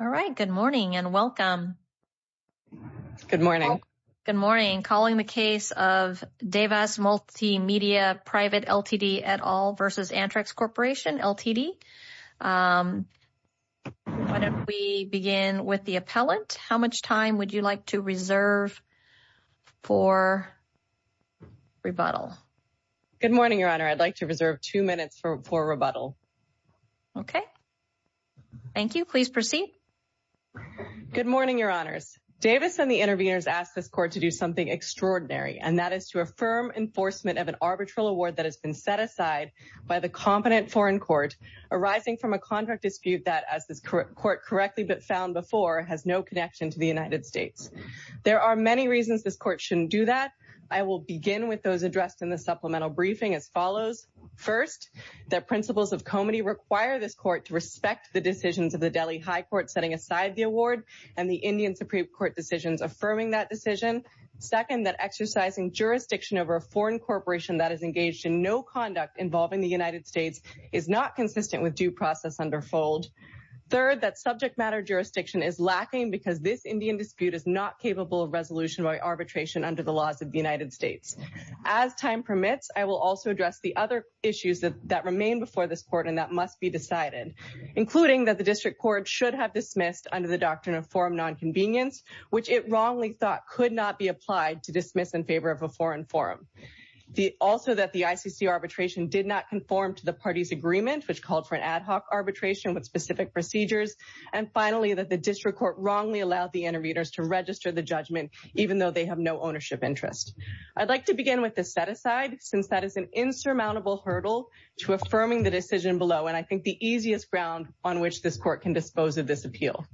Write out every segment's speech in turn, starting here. All right. Good morning and welcome. Good morning. Good morning. Calling the case of Devas Multimedia Private Ltd. et al. v. Antrix Corporation Ltd. Why don't we begin with the appellant. How much time would you like to reserve for rebuttal? Good morning, Your Honor. I'd like to reserve two minutes for rebuttal. Okay. Thank you. Please proceed. Good morning, Your Honors. Davis and the interveners asked this court to do something extraordinary, and that is to affirm enforcement of an arbitral award that has been set aside by the competent foreign court arising from a contract dispute that, as this court correctly found before, has no connection to the United States. There are many reasons this court shouldn't do that. I will begin with those addressed in the this court to respect the decisions of the Delhi High Court setting aside the award and the Indian Supreme Court decisions affirming that decision. Second, that exercising jurisdiction over a foreign corporation that is engaged in no conduct involving the United States is not consistent with due process under fold. Third, that subject matter jurisdiction is lacking because this Indian dispute is not capable of resolution by arbitration under the laws of the decided, including that the district court should have dismissed under the doctrine of forum nonconvenience, which it wrongly thought could not be applied to dismiss in favor of a foreign forum. Also, that the ICC arbitration did not conform to the party's agreement, which called for an ad hoc arbitration with specific procedures. And finally, that the district court wrongly allowed the interveners to register the judgment, even though they have no ownership interest. I'd like to begin with this set aside, since that is an insurmountable hurdle to affirming the decision below. And I think the easiest ground on which this court can dispose of this appeal.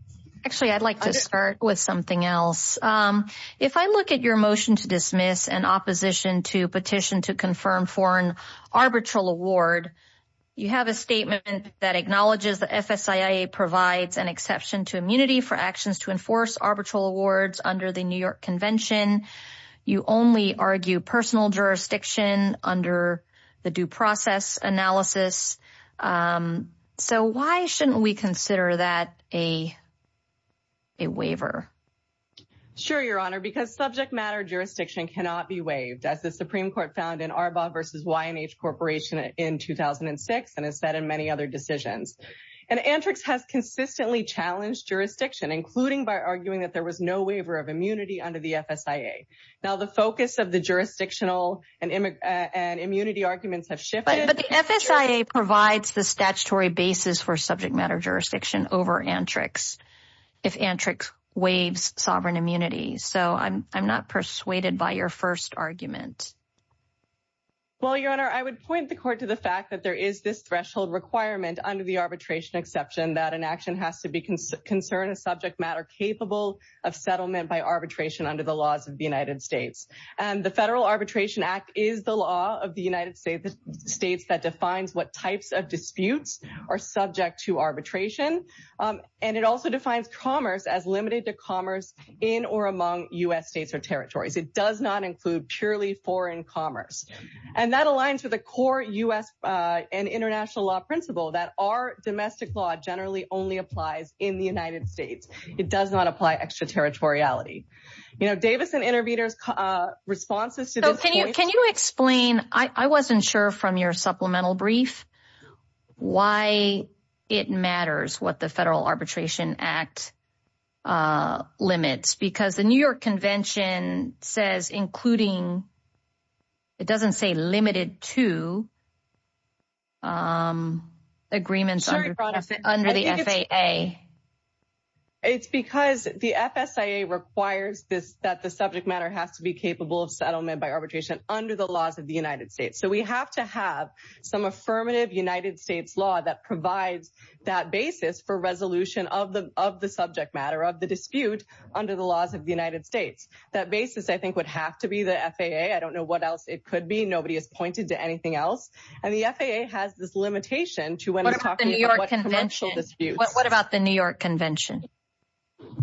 Actually, I'd like to start with something else. If I look at your motion to dismiss an opposition to petition to confirm foreign arbitral award, you have a statement that acknowledges the FSIA provides an exception to immunity for actions to enforce arbitral awards under the New York Convention. You only argue personal jurisdiction under the due process analysis. So why shouldn't we consider that a waiver? Sure, Your Honor, because subject matter jurisdiction cannot be waived as the Supreme Court found in Arbaugh versus YNH Corporation in 2006 and has said in many other decisions. And Antrix has consistently challenged jurisdiction, including by arguing that there was no waiver of immunity under the FSIA. Now, the focus of the jurisdictional and immunity arguments have shifted. But the FSIA provides the statutory basis for subject matter jurisdiction over Antrix if Antrix waives sovereign immunity. So I'm not persuaded by your first argument. Well, Your Honor, I would point the court to the fact that there is this matter capable of settlement by arbitration under the laws of the United States. And the Federal Arbitration Act is the law of the United States that defines what types of disputes are subject to arbitration. And it also defines commerce as limited to commerce in or among U.S. states or territories. It does not include purely foreign commerce. And that aligns with the core U.S. and international law principle that our domestic law generally only applies in the United States. It does not apply extraterritoriality. You know, Davis and Interveder's responses to this point. Can you explain, I wasn't sure from your supplemental brief, why it matters what the Federal Arbitration Act limits? Because the New York Convention says including, it doesn't say limited to agreements under the FAA. It's because the FSIA requires that the subject matter has to be capable of settlement by arbitration under the laws of the United States. So we have to have some affirmative United States law that provides that basis for resolution of the subject matter, of the dispute under the FAA. I don't know what else it could be. Nobody has pointed to anything else. And the FAA has this limitation to when it's talking about commercial disputes. What about the New York Convention?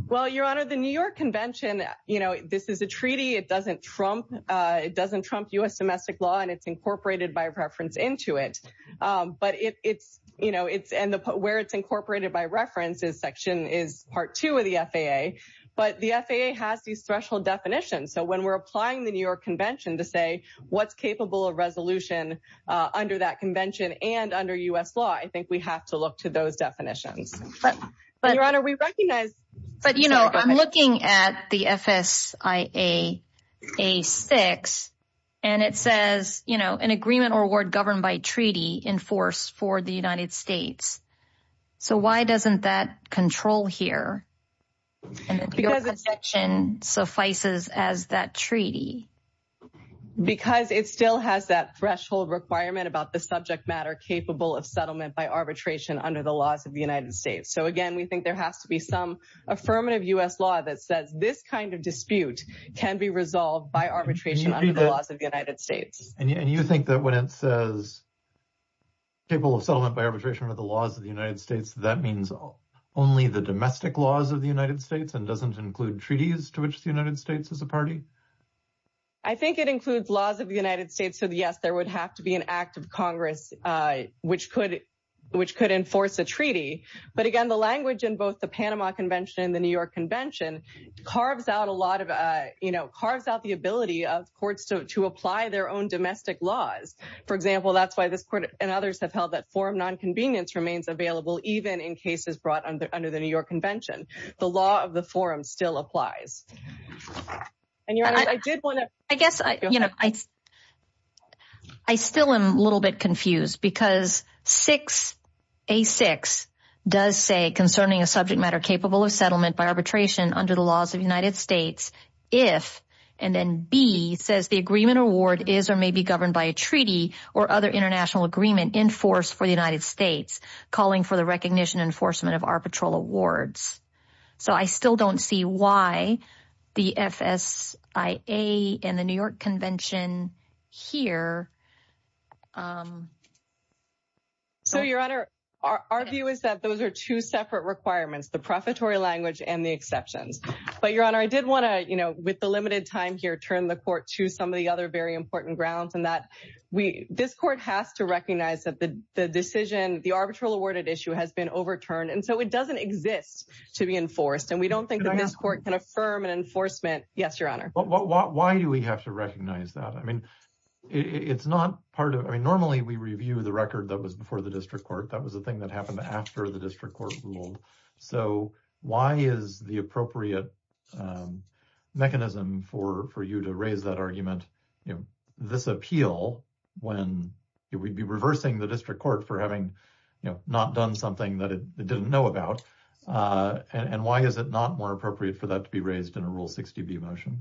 Well, Your Honor, the New York Convention, you know, this is a treaty. It doesn't trump U.S. domestic law, and it's incorporated by reference into it. And where it's incorporated by reference, this section is part two of the FAA. But the FAA has these threshold definitions. So when we're applying the New York Convention to say what's capable of resolution under that convention and under U.S. law, I think we have to look to those definitions. But, Your Honor, we recognize. But, you know, I'm looking at the FSIA-6, and it says, you know, an agreement or award governed by treaty enforced for the United States. So why doesn't that control here? Because the section suffices as that treaty. Because it still has that threshold requirement about the subject matter capable of settlement by arbitration under the laws of the United States. So again, we think there has to be some affirmative U.S. law that says this kind of dispute can be resolved by arbitration under the laws of the United States. And you think that when it says capable of settlement by arbitration under the laws of the United States, that means only the domestic laws of the United States and doesn't include treaties to which the United States is a party? I think it includes laws of the United States. So yes, there would have to be an act of Congress which could enforce a treaty. But again, the language in both the Panama Convention and the New York Convention carves out a lot of, you know, carves out the ability of courts to apply their own domestic laws. For example, that's why this court and others have held that forum non-convenience remains available even in cases brought under the New York Convention. The law of the forum still applies. And your honor, I did want to- I guess, you know, I still am a little bit confused because 6A.6 does say concerning a subject matter capable of settlement by arbitration under the laws of the United States, if, and then B says the agreement award is or may be governed by a treaty or other international agreement enforced for the United States calling for the recognition enforcement of arbitral awards. So I still don't see why the FSIA and the New York Convention here. So your honor, our view is that those are two separate requirements, the profitable language and the exceptions. But your honor, I did want to, you know, with the limited time here, turn the to some of the other very important grounds and that we, this court has to recognize that the decision, the arbitral awarded issue has been overturned. And so it doesn't exist to be enforced. And we don't think that this court can affirm an enforcement. Yes, your honor. Why do we have to recognize that? I mean, it's not part of, I mean, normally we review the record that was before the district court. That was the thing that happened after the district court ruled. So why is the appropriate mechanism for you to raise that argument? This appeal, when it would be reversing the district court for having not done something that it didn't know about. And why is it not more appropriate for that to be raised in a rule 60 B motion?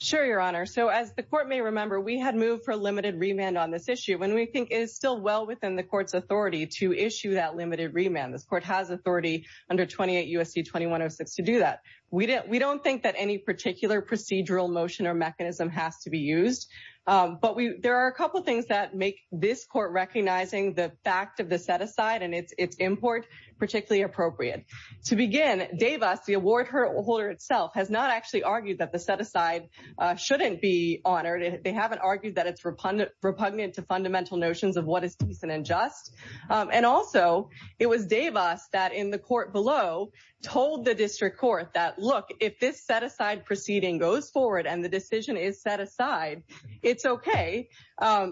Sure, your honor. So as the court may remember, we had moved for a limited remand on this issue when we think is still well within the court's authority to issue that limited remand. This court has authority under 28 U.S.C. 2106 to do that. We don't think that any particular procedural motion or mechanism has to be used. But there are a couple of things that make this court recognizing the fact of the set aside and its import particularly appropriate. To begin, Davis, the award holder itself has not actually argued that the set aside shouldn't be honored. They haven't argued that it's repugnant to fundamental notions of what is decent and just. And also, it was Davis that in the court below told the district court that, look, if this set aside proceeding goes forward and the decision is set aside, it's okay.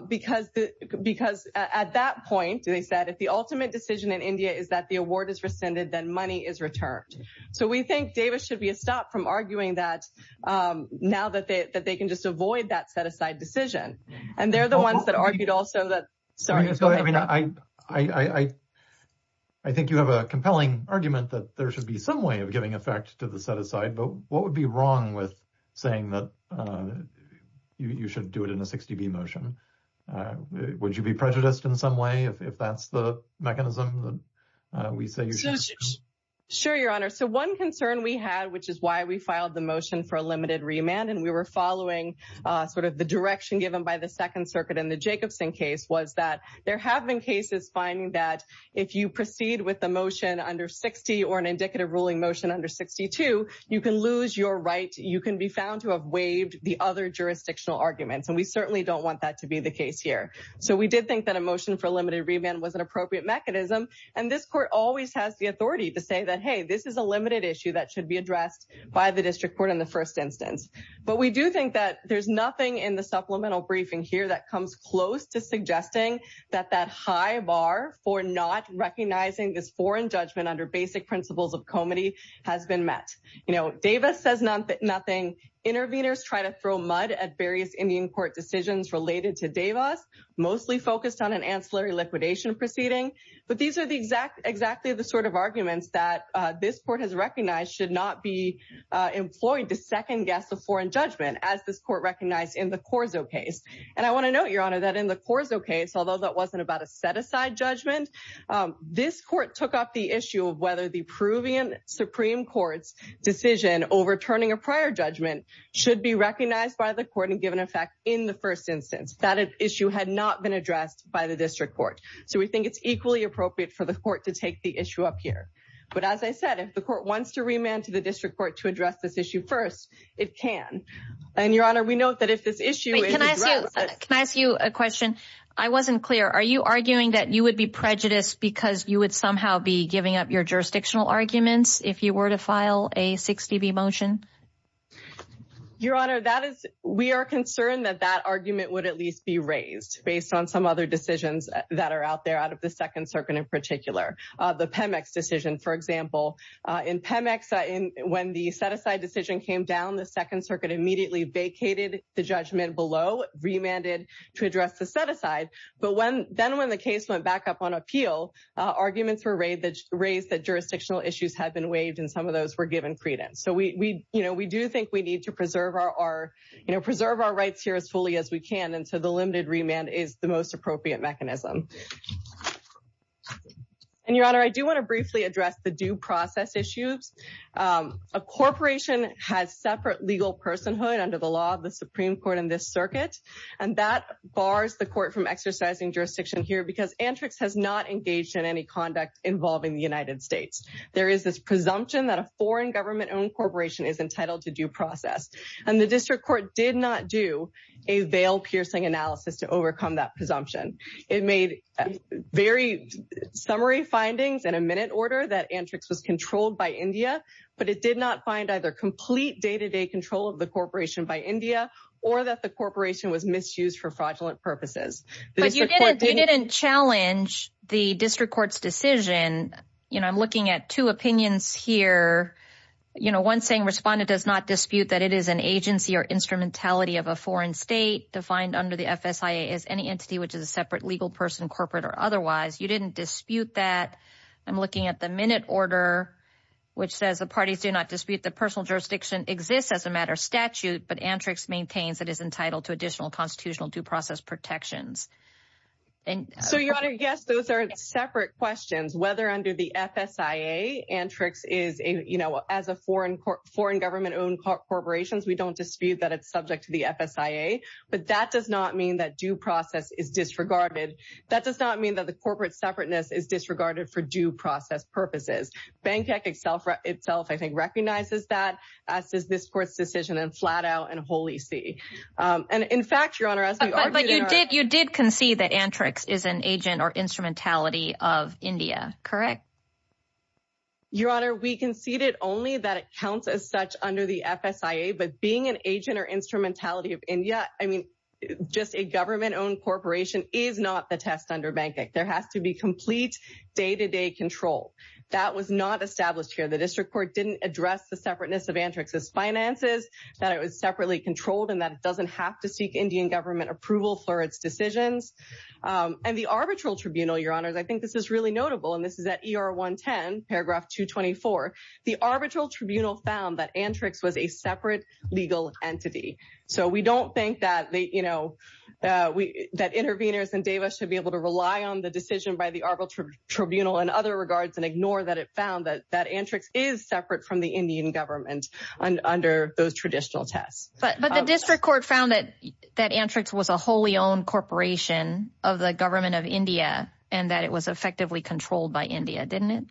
Because at that point, they said, if the ultimate decision in India is that the award is rescinded, then money is returned. So we think Davis should be a stop from arguing that now that they can just avoid that set aside decision. And they're the ones that argued also that. I mean, I think you have a compelling argument that there should be some way of giving effect to the set aside. But what would be wrong with saying that you should do it in a 60B motion? Would you be prejudiced in some way if that's the mechanism that we say? Sure, Your Honor. So one concern we had, which is why we filed the motion for a limited remand, and we were following sort of the direction given by the Second Circuit in the Jacobson case, was that there have been cases finding that if you proceed with the motion under 60 or an indicative ruling motion under 62, you can lose your right. You can be found to have waived the other jurisdictional arguments. And we certainly don't want that to be the case here. So we did think that a motion for a limited remand was an appropriate mechanism. And this court always has the authority to say that, hey, this is a limited issue that should be addressed by the district court in the first instance. But we do think that there's nothing in the that that high bar for not recognizing this foreign judgment under basic principles of comity has been met. You know, Davis says nothing. Interveners try to throw mud at various Indian court decisions related to Davis, mostly focused on an ancillary liquidation proceeding. But these are exactly the sort of arguments that this court has recognized should not be employed to second guess a foreign judgment as this court recognized in the Corzo case. And I want to note, Your Honor, that in the Corzo case, although that wasn't about a set aside judgment, this court took up the issue of whether the Peruvian Supreme Court's decision overturning a prior judgment should be recognized by the court and given effect in the first instance that issue had not been addressed by the district court. So we think it's equally appropriate for the court to take the issue up here. But as I said, if the court wants to remand to the district court to address this issue first, it can. And Your Honor, we know that if this issue. Can I ask you a question? I wasn't clear. Are you arguing that you would be prejudiced because you would somehow be giving up your jurisdictional arguments if you were to file a 60 B motion? Your Honor, that is we are concerned that that argument would at least be raised based on some other decisions that are out there out of the Second Circuit in particular, the Pemex decision, for example, in Pemex. When the set aside decision came down, the Second Circuit immediately vacated the judgment below, remanded to address the set aside. But when then when the case went back up on appeal, arguments were raised that raised that jurisdictional issues had been waived and some of those were given credence. So we, you know, we do think we need to preserve our, you know, preserve our rights here as fully as we can. And so the limited remand is the appropriate mechanism. And Your Honor, I do want to briefly address the due process issues. A corporation has separate legal personhood under the law of the Supreme Court in this circuit. And that bars the court from exercising jurisdiction here because Antrix has not engaged in any conduct involving the United States. There is this presumption that a foreign government owned corporation is entitled to due process. And the district court did not do a veil-piercing analysis to overcome that presumption. It made very summary findings in a minute order that Antrix was controlled by India, but it did not find either complete day-to-day control of the corporation by India or that the corporation was misused for fraudulent purposes. But you didn't challenge the district court's decision. You know, I'm looking at two opinions here. You know, one saying respondent does not dispute that it is an agency or instrumentality of a foreign state defined under the FSIA as any entity which is a separate legal person, corporate or otherwise. You didn't dispute that. I'm looking at the minute order, which says the parties do not dispute the personal jurisdiction exists as a matter of statute, but Antrix maintains it is entitled to additional constitutional due process protections. So Your Honor, yes, those are separate questions. Whether under the FSIA, Antrix is a, you know, as a foreign government-owned corporation, we don't dispute that it's subject to the FSIA, but that does not mean that due process is disregarded. That does not mean that the corporate separateness is disregarded for due process purposes. Bankec itself, I think, recognizes that as does this court's decision and flat out and wholly see. And in fact, Your Honor, you did concede that Antrix is an agent or instrumentality of India, correct? Your Honor, we conceded only that it counts as such under the FSIA, but being an agent or instrumentality of India, I mean, just a government-owned corporation is not the test under Bankec. There has to be complete day-to-day control. That was not established here. The district court didn't address the separateness of Antrix's finances, that it was separately controlled, and that it doesn't have to seek Indian government approval for its decisions. And the arbitral tribunal, Your Honor, I think this is really notable, and this is at ERP, paragraph 224, the arbitral tribunal found that Antrix was a separate legal entity. So we don't think that interveners and DAEVA should be able to rely on the decision by the arbitral tribunal in other regards and ignore that it found that Antrix is separate from the Indian government under those traditional tests. But the district court found that Antrix was a wholly-owned corporation of the government of India and that it was effectively controlled by India, didn't it?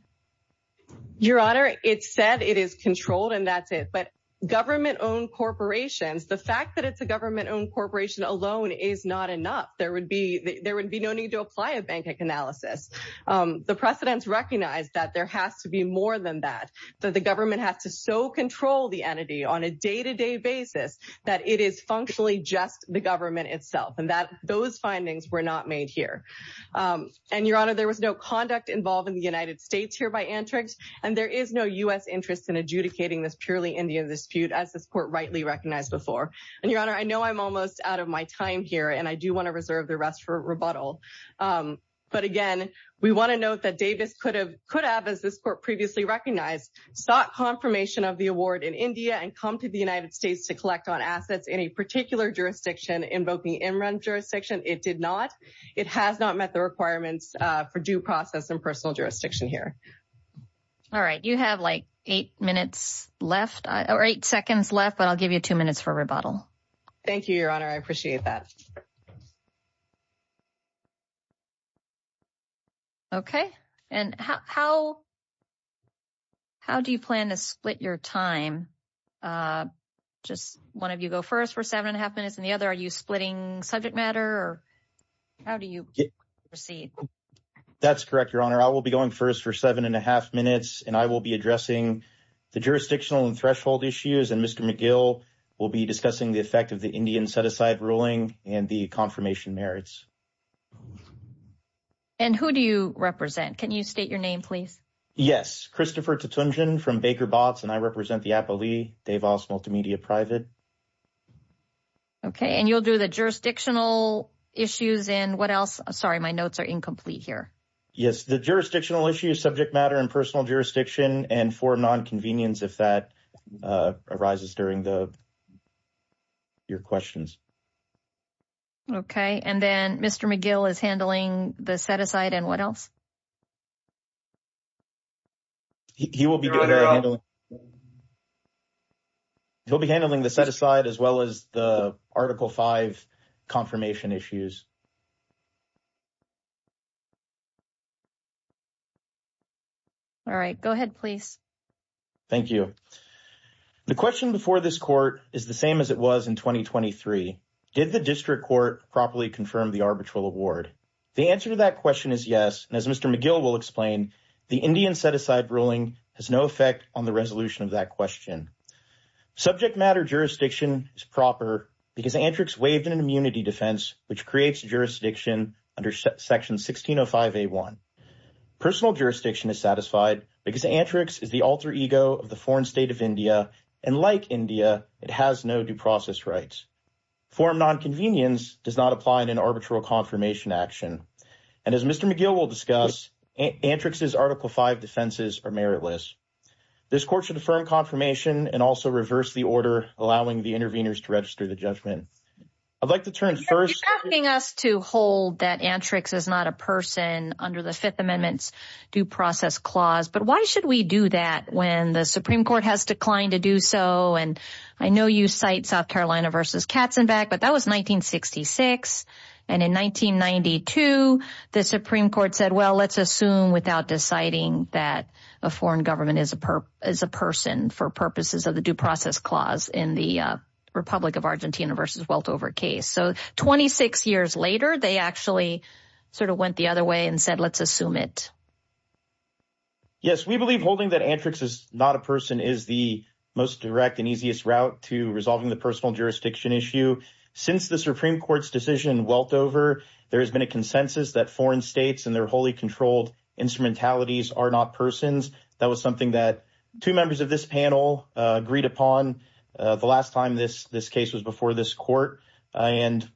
Your Honor, it said it is controlled and that's it. But government-owned corporations, the fact that it's a government-owned corporation alone is not enough. There would be no need to apply a Bankec analysis. The precedents recognize that there has to be more than that, that the government has to so control the entity on a day-to-day basis that it is functionally just the government itself, and that those findings were not made here. And Your Honor, there was no conduct involved in the United States here by Antrix, and there is no U.S. interest in adjudicating this purely Indian dispute as this court rightly recognized before. And Your Honor, I know I'm almost out of my time here, and I do want to reserve the rest for rebuttal. But again, we want to note that DAEVA could have, as this court previously recognized, sought confirmation of the award in India and come to the United States to collect on assets in a particular jurisdiction invoking in-run jurisdiction. It did not. It has not met the requirements for due process and personal jurisdiction here. All right. You have like eight minutes left or eight seconds left, but I'll give you two minutes for rebuttal. Thank you, Your Honor. I appreciate that. Okay. And how do you plan to split your time? Just one of you go first for seven and a half minutes, and the other, are you splitting subject matter? Or how do you proceed? That's correct, Your Honor. I will be going first for seven and a half minutes, and I will be addressing the jurisdictional and threshold issues. And Mr. McGill will be discussing the effect of the Indian set-aside ruling and the confirmation merits. And who do you represent? Can you state your name, please? Yes. Christopher Tatunjan from Baker Botts, and I represent the Appali DeVos Multimedia Private. Okay. And you'll do the jurisdictional issues and what else? Sorry, my notes are incomplete here. Yes. The jurisdictional issue is subject matter and personal jurisdiction, and for nonconvenience, if that arises during your questions. Okay. And then Mr. McGill is handling the set-aside and what else? He will be doing the handling. He'll be handling the set-aside as well as the Article V confirmation issues. All right. Go ahead, please. Thank you. The question before this court is the same as it was in 2023. Did the district court properly confirm the arbitral award? The answer to that question is yes, and as Mr. McGill will explain, the Indian set-aside ruling has no effect on the resolution of that question. Subject matter jurisdiction is proper because Antrix waived an immunity defense, which creates jurisdiction under Section 1605A1. Personal jurisdiction is satisfied because Antrix is the alter ego of the foreign state of India, and like India, it has no due process rights. Form nonconvenience does not apply in an arbitral confirmation action, and as Mr. McGill will discuss, Antrix's Article V defenses are meritless. This court should affirm confirmation and also reverse the order, allowing the interveners to register the judgment. I'd like to turn first... You're asking us to hold that Antrix is not a person under the Fifth Amendment's due process clause, but why should we do that when the Supreme Court has declined to do so? And I know you cite South Carolina versus Katzenbach, but that was 1966, and in 1992, the Supreme Court said, well, let's assume without deciding that a foreign government is a person for purposes of the due process clause in the Republic of Argentina versus Weltover case. So 26 years later, they actually sort of went the other way and said, let's assume it. Yes, we believe holding that Antrix is not a person is the most direct and easiest route to resolving the personal jurisdiction issue. Since the Supreme Court's decision in Weltover, there has been a consensus that foreign states and their wholly controlled instrumentalities are not persons. That was something that two members of this panel agreed upon the last time this case was before this court, and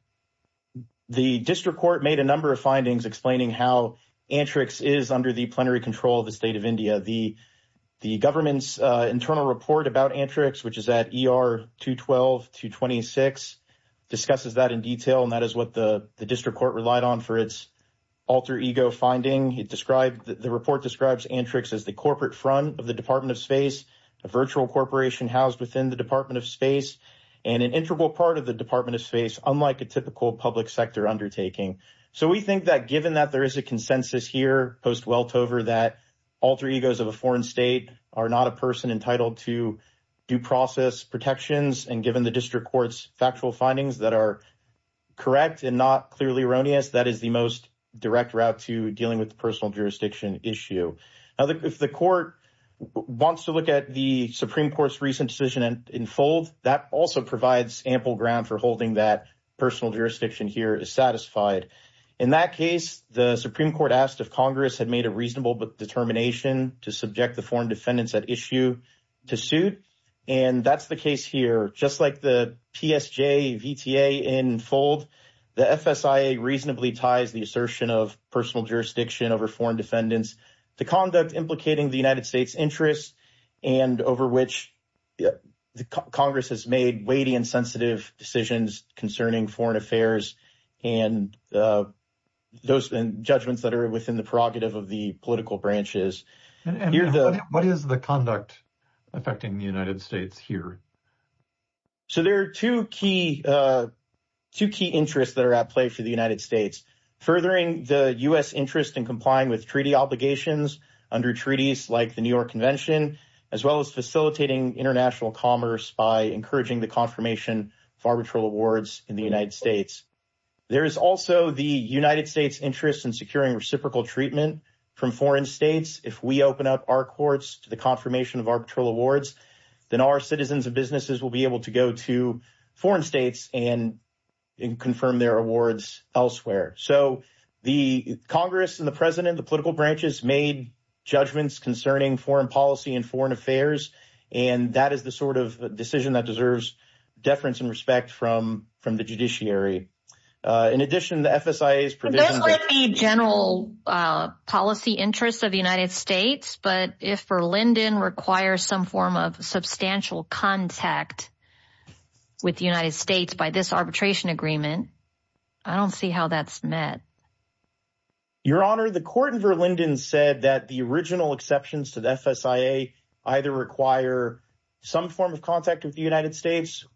the district court made a number of findings explaining how Antrix is under the plenary control of the state of India. The government's internal report about Antrix, which is at ER 212-226, discusses that in detail, and that is what the district court relied on for its alter ego finding. The report describes Antrix as the corporate front of the Department of Space, a virtual corporation housed within the Department of Space, and an integral part of the Department of Space, unlike a typical public sector undertaking. So we think that given that there is a consensus here post-Weltover that alter egos of a foreign state are not a person entitled to due process protections, and given the district court's factual findings that are correct and not clearly erroneous, that is the most direct route to dealing with the personal jurisdiction issue. Now, if the court wants to look at the Supreme Court's recent decision in full, that also provides ample ground for holding that personal jurisdiction here is satisfied. In that case, the Supreme Court asked if Congress had made a reasonable determination to subject the foreign defendants at issue to suit, and that's the case here. Just like the PSJ VTA in fold, the FSIA reasonably ties the assertion of personal jurisdiction over foreign defendants to conduct implicating the United States' interests and over which Congress has made weighty and sensitive decisions concerning foreign affairs and judgments that are within the prerogative of the political branches. What is the conduct affecting the United States here? So there are two key interests that are at play for the United States, furthering the U.S. interest in complying with treaty obligations under treaties like the New York Convention, as well as facilitating international commerce by encouraging the confirmation of arbitral awards in the United States. There is also the United States' interest in securing reciprocal treatment from foreign states. If we open up our courts to the confirmation of arbitral awards, then our citizens and businesses will be able to go to foreign states and confirm their awards elsewhere. So the Congress and the President, the political branches, made judgments concerning foreign policy and foreign affairs, and that is the sort of decision that deference and respect from the judiciary. In addition, the FSIA's provision... Those are the general policy interests of the United States, but if Verlinden requires some form of substantial contact with the United States by this arbitration agreement, I don't see how that's met. Your Honor, the court in Verlinden said that the original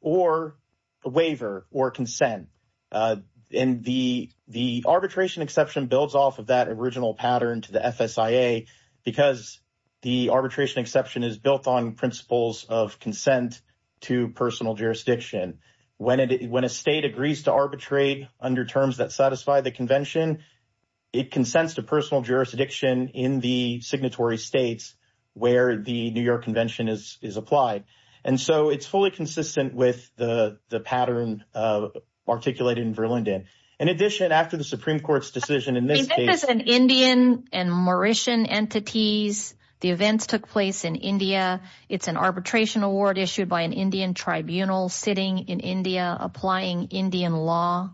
or a waiver or consent. And the arbitration exception builds off of that original pattern to the FSIA because the arbitration exception is built on principles of consent to personal jurisdiction. When a state agrees to arbitrate under terms that satisfy the Convention, it consents to personal jurisdiction in the signatory states where the New York Convention is applied. And so it's fully consistent with the pattern articulated in Verlinden. In addition, after the Supreme Court's decision in this case... I mean, there was an Indian and Mauritian entities. The events took place in India. It's an arbitration award issued by an Indian tribunal sitting in India applying Indian law.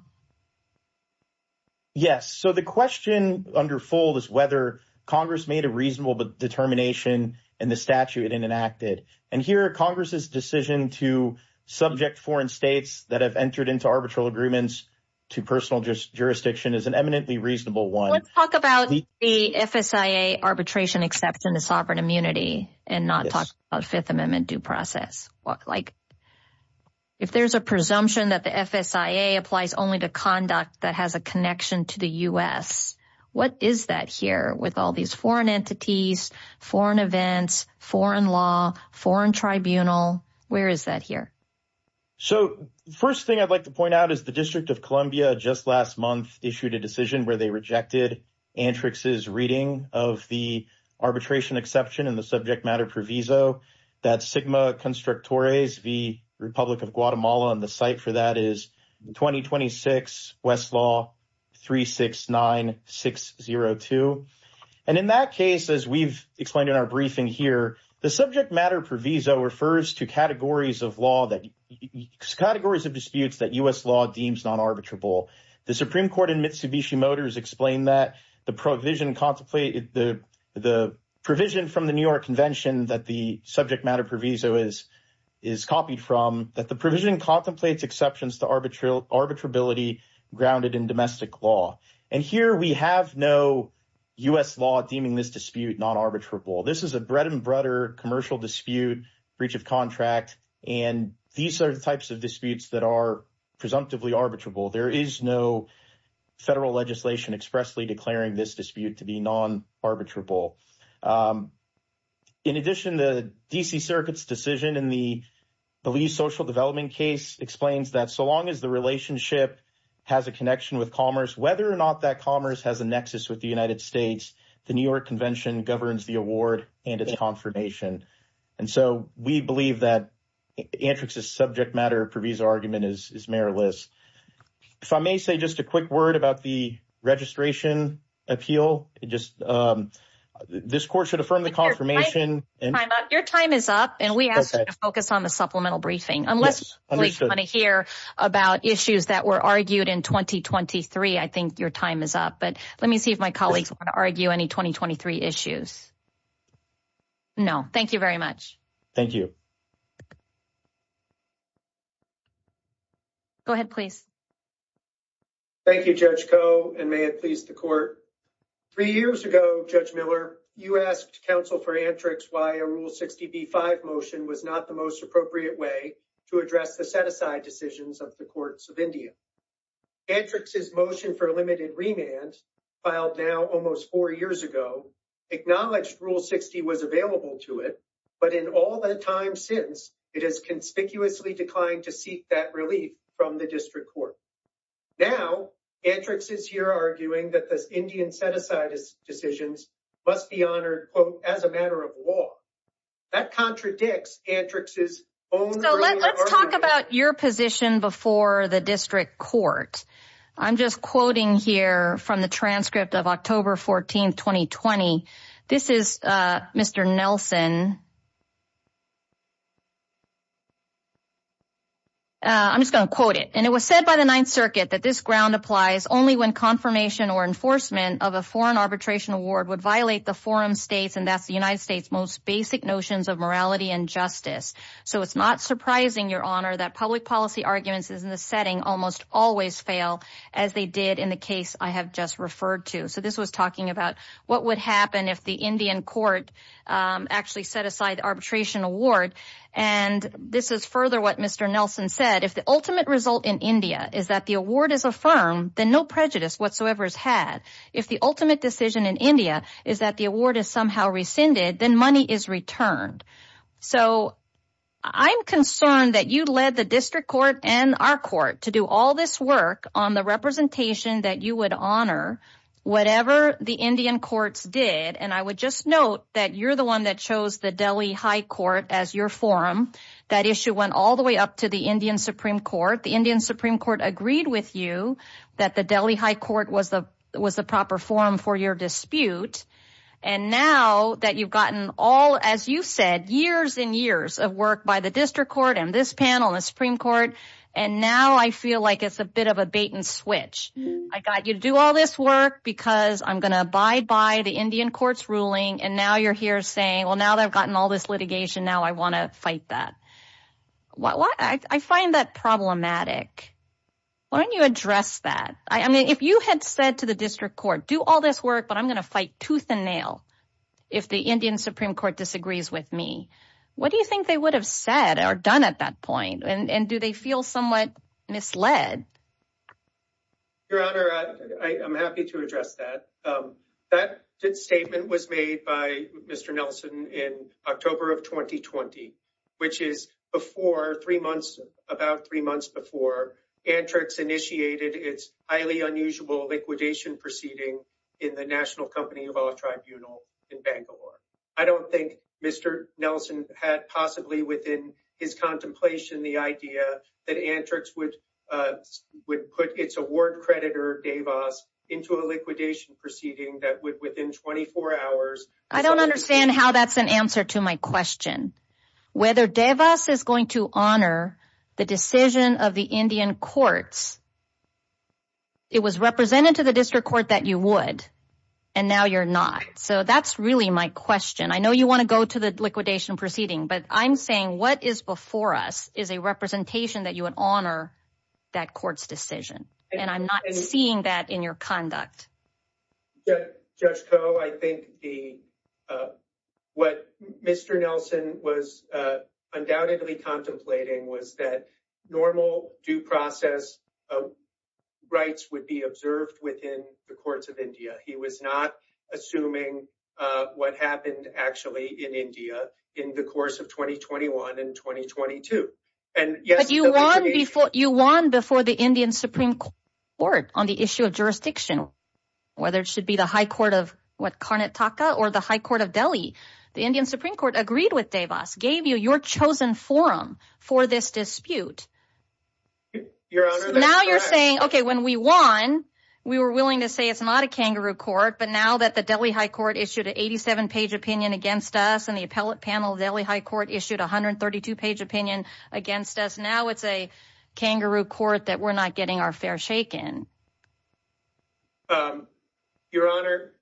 Yes. So the question under fold is whether Congress made a reasonable determination in the statute it enacted. And here, Congress's decision to subject foreign states that have entered into arbitral agreements to personal jurisdiction is an eminently reasonable one. Let's talk about the FSIA arbitration exception to sovereign immunity and not talk about Fifth Amendment due process. If there's a presumption that the FSIA applies only to conduct that has connection to the U.S., what is that here with all these foreign entities, foreign events, foreign law, foreign tribunal? Where is that here? So the first thing I'd like to point out is the District of Columbia just last month issued a decision where they rejected Antrix's reading of the arbitration exception and the subject matter proviso that Sigma Constructores v. Republic of Guatemala and the site for that is 2026 Westlaw 369602. And in that case, as we've explained in our briefing here, the subject matter proviso refers to categories of law that categories of disputes that U.S. law deems non-arbitrable. The Supreme Court in Mitsubishi Motors explained that the provision contemplated the provision from the New York Convention that the subject matter proviso is copied from, that the provision contemplates exceptions to arbitrability grounded in domestic law. And here we have no U.S. law deeming this dispute non-arbitrable. This is a bread and butter commercial dispute, breach of contract, and these are the types of disputes that are presumptively arbitrable. There is no federal legislation expressly declaring this dispute to be non-arbitrable. In addition, the D.C. Circuit's decision in the Belize Social Development case explains that so long as the relationship has a connection with commerce, whether or not that commerce has a nexus with the United States, the New York Convention governs the award and its confirmation. And so we believe that Antrix's subject matter proviso argument is meriless. If I may say just a quick word about the registration appeal. This court should affirm the confirmation. Your time is up and we asked you to focus on the supplemental briefing. Unless you want to hear about issues that were argued in 2023, I think your time is up. But let me see if my colleagues want to argue any 2023 issues. No, thank you very much. Thank you. Go ahead, please. Thank you, Judge Koh, and may it please the court. Three years ago, Judge Miller, you asked counsel for Antrix why a Rule 60b-5 motion was not the most appropriate way to address the set-aside decisions of the courts of India. Antrix's motion for limited remand, filed now almost four years ago, acknowledged Rule 60 was available to it, but in all the time since, it has conspicuously declined to seek that relief from the district court. Now, Antrix is here arguing that the Indian set-aside decisions must be honored, quote, as a matter of law. That contradicts Antrix's own argument. So let's talk about your position before the district court. I'm just quoting here from the transcript of October 14, 2020. This is Mr. Nelson. I'm just going to quote it. And it was said by the Ninth Circuit that this ground applies only when confirmation or enforcement of a foreign arbitration award would violate the forum states, and that's the United States' most basic notions of morality and justice. So it's not surprising, Your Honor, that public policy arguments in this setting almost always fail, as they did in the case I have just referred to. So this was talking about what would happen if the Indian court actually set aside the arbitration award. And this is further what Mr. Nelson said. If the ultimate result in India is that the award is affirmed, then no prejudice whatsoever is had. If the ultimate decision in India is that the award is somehow rescinded, then money is returned. So I'm concerned that you led the district court and our court to do all this work on the representation that you would honor, whatever the Indian courts did. And I would just note that you're the one that chose the Delhi High Court as your forum. That issue went all the way up to the Indian Supreme Court. The Indian Supreme Court agreed with you that the Delhi High Court was the proper forum for your dispute. And now that you've gotten all, as you said, years and years of work by the district court and this panel and the Supreme Court, and now I feel like it's a bit of a bait and switch. I got you to do all this work because I'm going to abide by the Indian court's ruling. And now you're here saying, well, now that I've gotten all this litigation, now I want to fight that. I find that problematic. Why don't you address that? I mean, if you had said to the district court, do all this work, but I'm going to fight tooth and nail if the Indian Supreme Court disagrees with me, what do you think they would have said or done at that point? And do they feel somewhat misled? Your Honor, I'm happy to address that. That statement was made by Mr. Nelson in October of 2020, which is before three months, about three months before Antrix initiated its highly unusual liquidation proceeding in the National Company of Law Tribunal in Bangalore. I don't think Mr. Nelson had possibly within his contemplation the idea that Antrix would put its award creditor, DeVos, into a liquidation proceeding that would within 24 hours. I don't understand how that's an answer to my question. Whether DeVos is going to honor the decision of the Indian courts, it was represented to the district court that you would, and now you're not. So that's really my question. I know you want to go to the liquidation proceeding, but I'm saying what is before us is a representation that you would honor that court's decision. And I'm not seeing that in your conduct. Judge Koh, I think what Mr. Nelson was undoubtedly contemplating was that normal due process of rights would be observed within the courts of India. He was not assuming what happened actually in India in the course of 2021 and 2022. But you won before the Indian Supreme Court on the issue of jurisdiction, whether it should be the High Court of Karnataka or the High Court of Delhi. The Indian Supreme Court agreed with DeVos, gave you your chosen forum for this dispute. Your Honor, now you're saying, okay, when we won, we were willing to say it's not a kangaroo court, but now that the Delhi High Court issued an 87-page opinion against us and the appellate panel of Delhi High Court issued 132-page opinion against us, now it's a kangaroo court that we're not getting our fair shake in. Your Honor,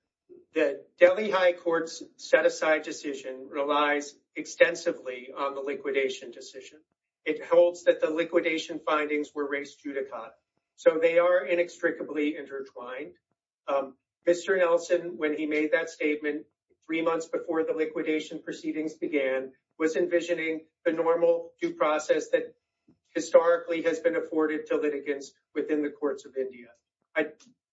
the Delhi High Court's set-aside decision relies extensively on the liquidation decision. It holds that the liquidation findings were raised judicata, so they are inextricably intertwined. Mr. Nelson, when he made that statement three months before the liquidation proceedings began, was envisioning the normal due process that historically has been afforded to litigants within the courts of India. I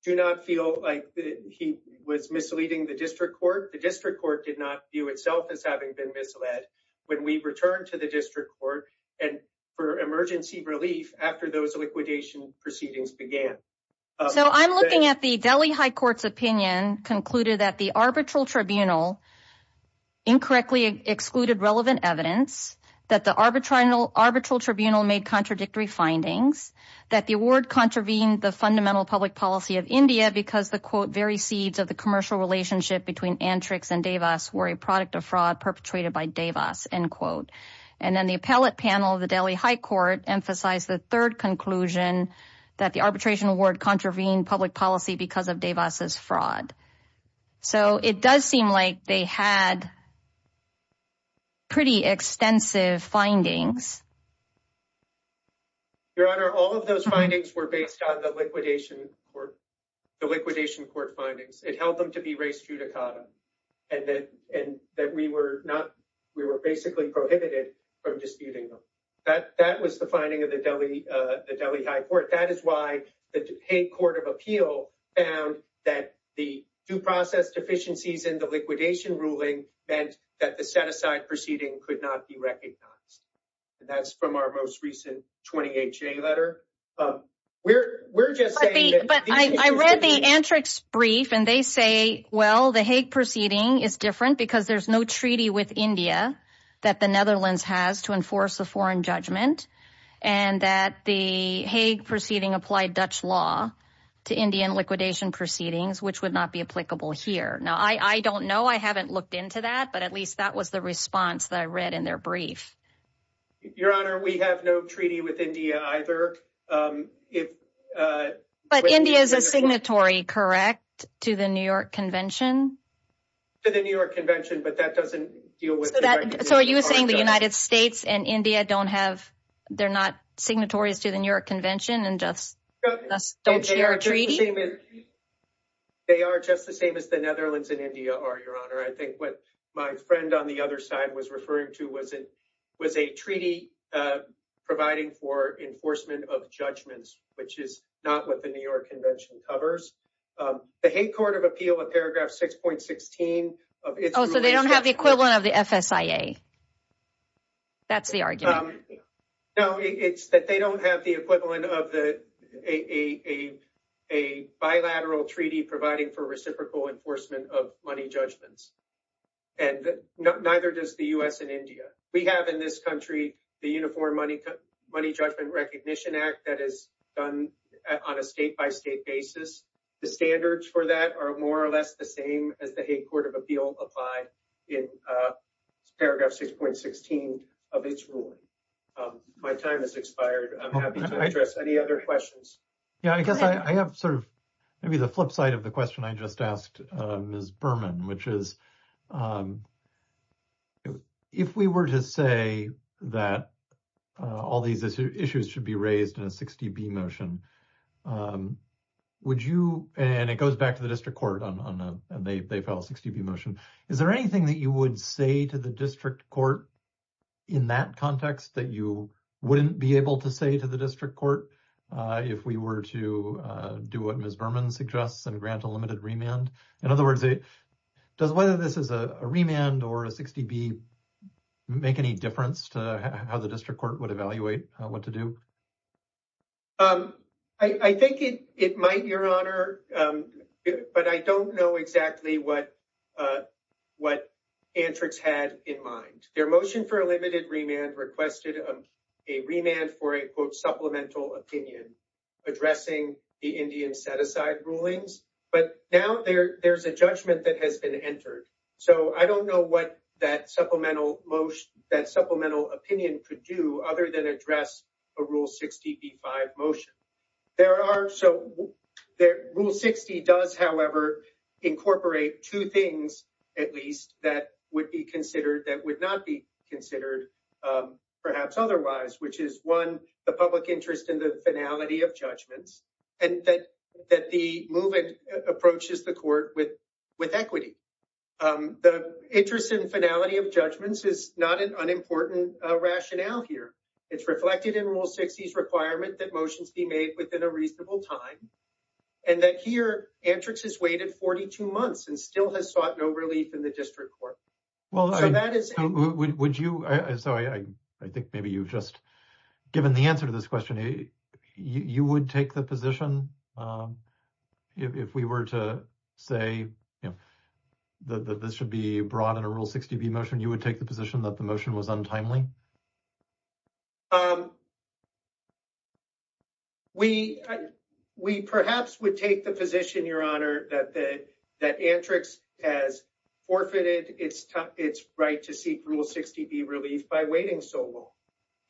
do not feel like he was misleading the district court. The district court did not view itself as having been misled when we returned to the district court for emergency relief after those liquidation proceedings began. So I'm looking at the Delhi High Court's opinion concluded that the arbitral tribunal incorrectly excluded relevant evidence, that the arbitral tribunal made contradictory findings, that the award contravened the fundamental public policy of India because the, quote, very seeds of the commercial relationship between Antrix and DeVos were a product of fraud perpetrated by DeVos, end quote. And then the appellate panel of the Delhi High Court emphasized the third conclusion, that the arbitration award contravened public policy because of DeVos' fraud. So it does seem like they had pretty extensive findings. Your Honor, all of those findings were based on the liquidation court, the liquidation court held them to be res judicatum and that we were basically prohibited from disputing them. That was the finding of the Delhi High Court. That is why the Dupay Court of Appeal found that the due process deficiencies in the liquidation ruling meant that the set-aside proceeding could not be recognized. And that's from our most recent 28-J letter. We're just saying that... But I read the Antrix brief and they say, well, the Hague proceeding is different because there's no treaty with India that the Netherlands has to enforce a foreign judgment. And that the Hague proceeding applied Dutch law to Indian liquidation proceedings, which would not be applicable here. Now, I don't know. I haven't looked into that, but at least that was the response that I read in their brief. Your Honor, we have no treaty with either. But India is a signatory, correct, to the New York Convention? To the New York Convention, but that doesn't deal with... So are you saying the United States and India don't have, they're not signatories to the New York Convention and just don't share a treaty? They are just the same as the Netherlands and India are, Your Honor. I think what my friend on the other side was referring to was a treaty providing for enforcement of judgments, which is not what the New York Convention covers. The Hague Court of Appeal, in paragraph 6.16... So they don't have the equivalent of the FSIA. That's the argument. No, it's that they don't have the equivalent of a bilateral treaty providing for reciprocal enforcement of money judgments. And neither does the U.S. and India. We have in this country the Uniform Money Judgment Recognition Act that is done on a state-by-state basis. The standards for that are more or less the same as the Hague Court of Appeal applied in paragraph 6.16 of its ruling. My time has expired. I'm happy to address any other questions. Yeah, I guess I have sort of maybe the flip side of the question I just asked Ms. Berman, which is if we were to say that all these issues should be raised in a 60-B motion, would you, and it goes back to the district court, and they file a 60-B motion. Is there anything that you would say to the district court in that context that you wouldn't be able to say to the district court if we were to do what Ms. Berman suggests and grant a limited remand? In other words, does whether this is a remand or a 60-B make any difference to how the district court would evaluate what to do? I think it might, Your Honor, but I don't know exactly what Antrix had in mind. Their motion for a limited remand requested a remand for a quote supplemental opinion addressing the Indian set-aside rulings, but now there's a judgment that has been entered. So I don't know what that supplemental opinion could do other than address a Rule 60-B-5 motion. Rule 60 does, however, incorporate two things, at least, that would not be considered perhaps otherwise, which is, one, the public interest in the finality of judgments and that the movement approaches the court with equity. The interest in finality of judgments is not an unimportant rationale here. It's reflected in Rule 60's requirement that motions be made within a reasonable time and that here, Antrix has waited 42 months and still has sought no relief in the district court. Well, I think maybe you've just given the answer to this question. You would take the position if we were to say that this should be brought in a Rule 60-B motion, you would take the position that the motion was untimely? Um, we perhaps would take the position, Your Honor, that Antrix has forfeited its right to seek Rule 60-B relief by waiting so long.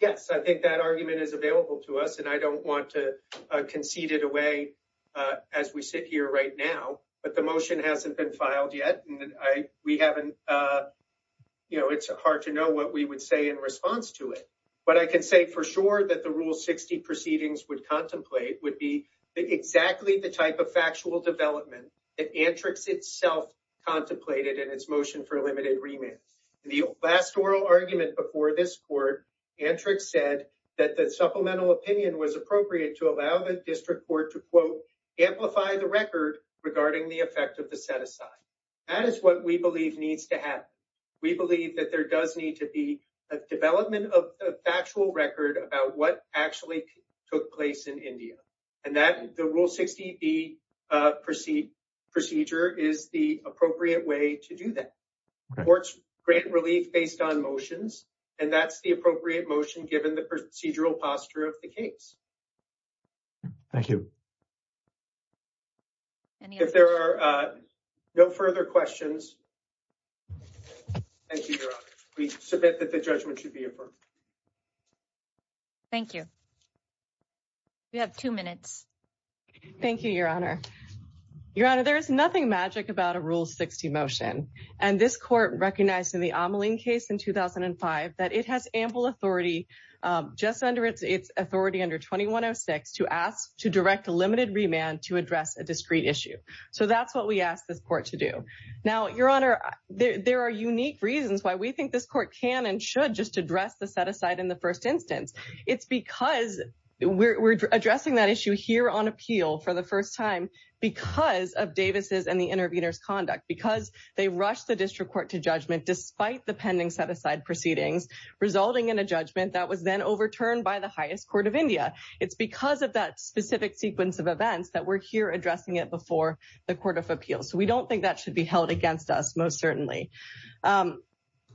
Yes, I think that argument is available to us and I don't want to concede it away as we sit here right now, but the motion hasn't been filed yet. We haven't, uh, you know, it's hard to know what we would say in response to it, but I can say for sure that the Rule 60 proceedings would contemplate would be exactly the type of factual development that Antrix itself contemplated in its motion for limited remand. The last oral argument before this court, Antrix said that the supplemental opinion was appropriate to allow the district court to, quote, amplify the record regarding the effect of the set-aside. That is what we believe needs to happen. We believe that there does need to be a development of a factual record about what actually took place in India and that the Rule 60-B procedure is the appropriate way to do that. Courts grant relief based on motions and that's the appropriate motion given the procedural posture of the case. Thank you. If there are no further questions, thank you, Your Honor. We submit that the judgment should be approved. Thank you. You have two minutes. Thank you, Your Honor. Your Honor, there is nothing magic about a Rule 60 motion and this court recognized in the Ameline case in 2005 that it has ample authority, just under its authority under 2106, to ask to direct the limited remand to address a discrete issue. So that's what we ask this court to do. Now, Your Honor, there are unique reasons why we think this court can and should just address the set aside in the first instance. It's because we're addressing that issue here on appeal for the first time because of Davis' and the intervener's conduct, because they rushed the district court to judgment despite the pending set-aside proceedings, resulting in a judgment that was then overturned by the highest court of India. It's because of that specific sequence of events that we're here addressing it before the Court of Appeals. So we don't think that should be held against us, most certainly.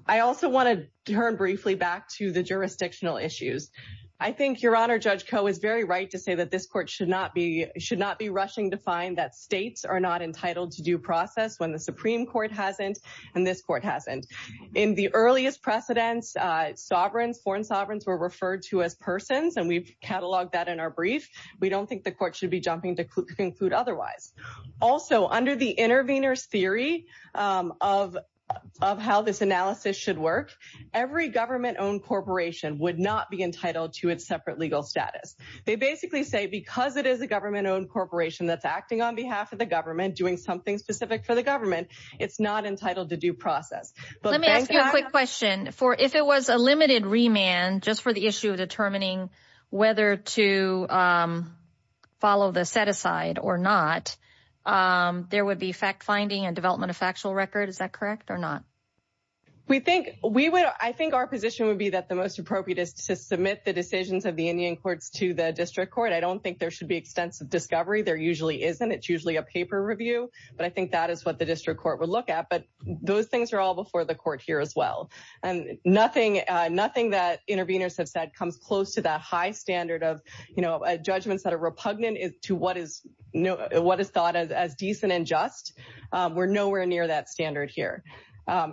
I also want to turn briefly back to the jurisdictional issues. I think Your Honor, Judge Koh is very right to say that this court should not be rushing to find that states are not entitled to due process when the Supreme Court hasn't and this court hasn't. In the earliest precedents, foreign sovereigns were referred to as persons, and we've cataloged that in our brief. We don't think the court should be jumping to conclude otherwise. Also, under the intervener's theory of how this analysis should work, every government-owned corporation would not be entitled to its separate legal status. They basically say because it is a government-owned corporation that's acting on behalf of the process. Let me ask you a quick question. If it was a limited remand just for the issue of determining whether to follow the set-aside or not, there would be fact-finding and development of factual record. Is that correct or not? I think our position would be that the most appropriate is to submit the decisions of the Indian courts to the district court. I don't think there should be extensive discovery. There usually isn't. It's usually a paper review, but I think that is what the district court would look at. Those things are all before the court here as well. Nothing that interveners have said comes close to that high standard of judgments that are repugnant to what is thought as decent and just. We're nowhere near that standard here.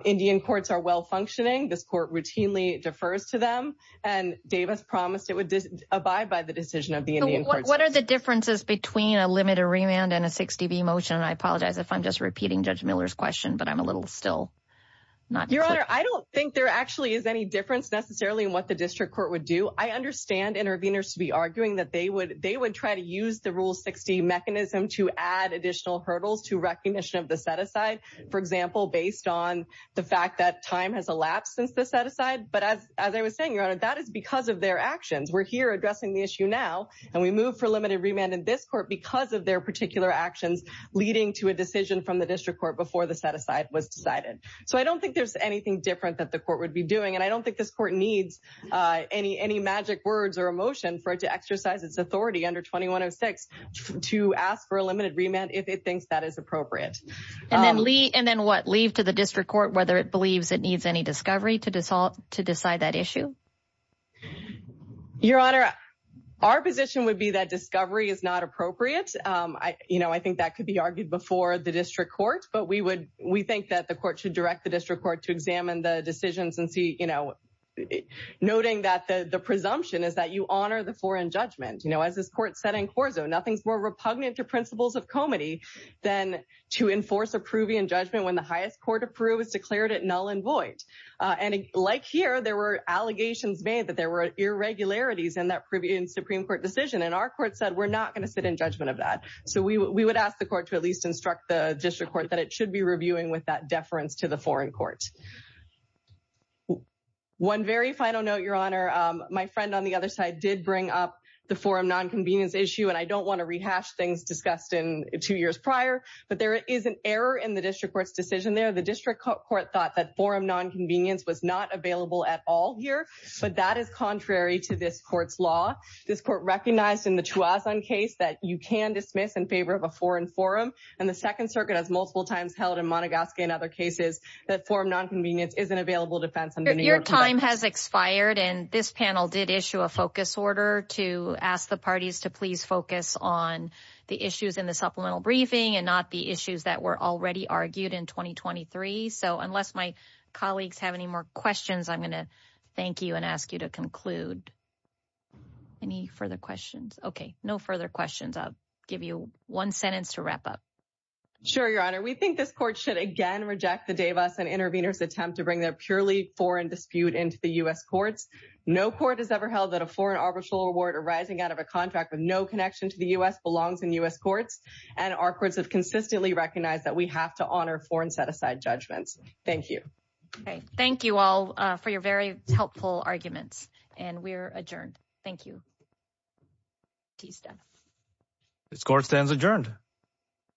Indian courts are well-functioning. This court routinely defers to them, and Davis promised it would abide by the decision of the Indian courts. What are the differences between a limited remand and a 60B motion? I apologize if I'm just repeating Judge Miller's question. I don't think there actually is any difference necessarily in what the district court would do. I understand interveners to be arguing that they would try to use the Rule 60 mechanism to add additional hurdles to recognition of the set-aside, for example, based on the fact that time has elapsed since the set-aside. But as I was saying, that is because of their actions. We're here addressing the issue now, and we move for limited remand in this court because of their particular actions leading to a decision from the district court before the set-aside was decided. So I don't think there's anything different that the court would be doing, and I don't think this court needs any magic words or emotion for it to exercise its authority under 2106 to ask for a limited remand if it thinks that is appropriate. And then leave to the district court whether it needs any discovery to decide that issue? Your Honor, our position would be that discovery is not appropriate. I think that could be argued before the district court, but we think that the court should direct the district court to examine the decisions and see, noting that the presumption is that you honor the floor in judgment. As this court said in Corso, nothing's more repugnant to principles of comity than to enforce approving judgment when the highest court approves declared it null and void. And like here, there were allegations made that there were irregularities in that Supreme Court decision, and our court said we're not going to sit in judgment of that. So we would ask the court to at least instruct the district court that it should be reviewing with that deference to the foreign court. One very final note, Your Honor, my friend on the other side did bring up the forum nonconvenience issue, and I don't want to rehash things discussed in two years prior, but there is an error in the district court's decision there. The district court thought that forum nonconvenience was not available at all here, but that is contrary to this court's law. This court recognized in the Chuazon case that you can dismiss in favor of a foreign forum, and the Second Circuit has multiple times held in Montgasquie and other cases that forum nonconvenience is an available defense. Your time has expired, and this panel did issue a focus order to ask the parties to please focus on the issues in the supplemental briefing and not issues that were already argued in 2023. So unless my colleagues have any more questions, I'm going to thank you and ask you to conclude. Any further questions? Okay, no further questions. I'll give you one sentence to wrap up. Sure, Your Honor. We think this court should again reject the Davis and Intervenors attempt to bring their purely foreign dispute into the U.S. courts. No court has ever held that a foreign arbitral award arising out of a contract with no connection to the U.S. belongs in U.S. courts, and our courts have consistently recognized that we have to honor foreign set-aside judgments. Thank you. Okay, thank you all for your very helpful arguments, and we're adjourned. Thank you. This court stands adjourned.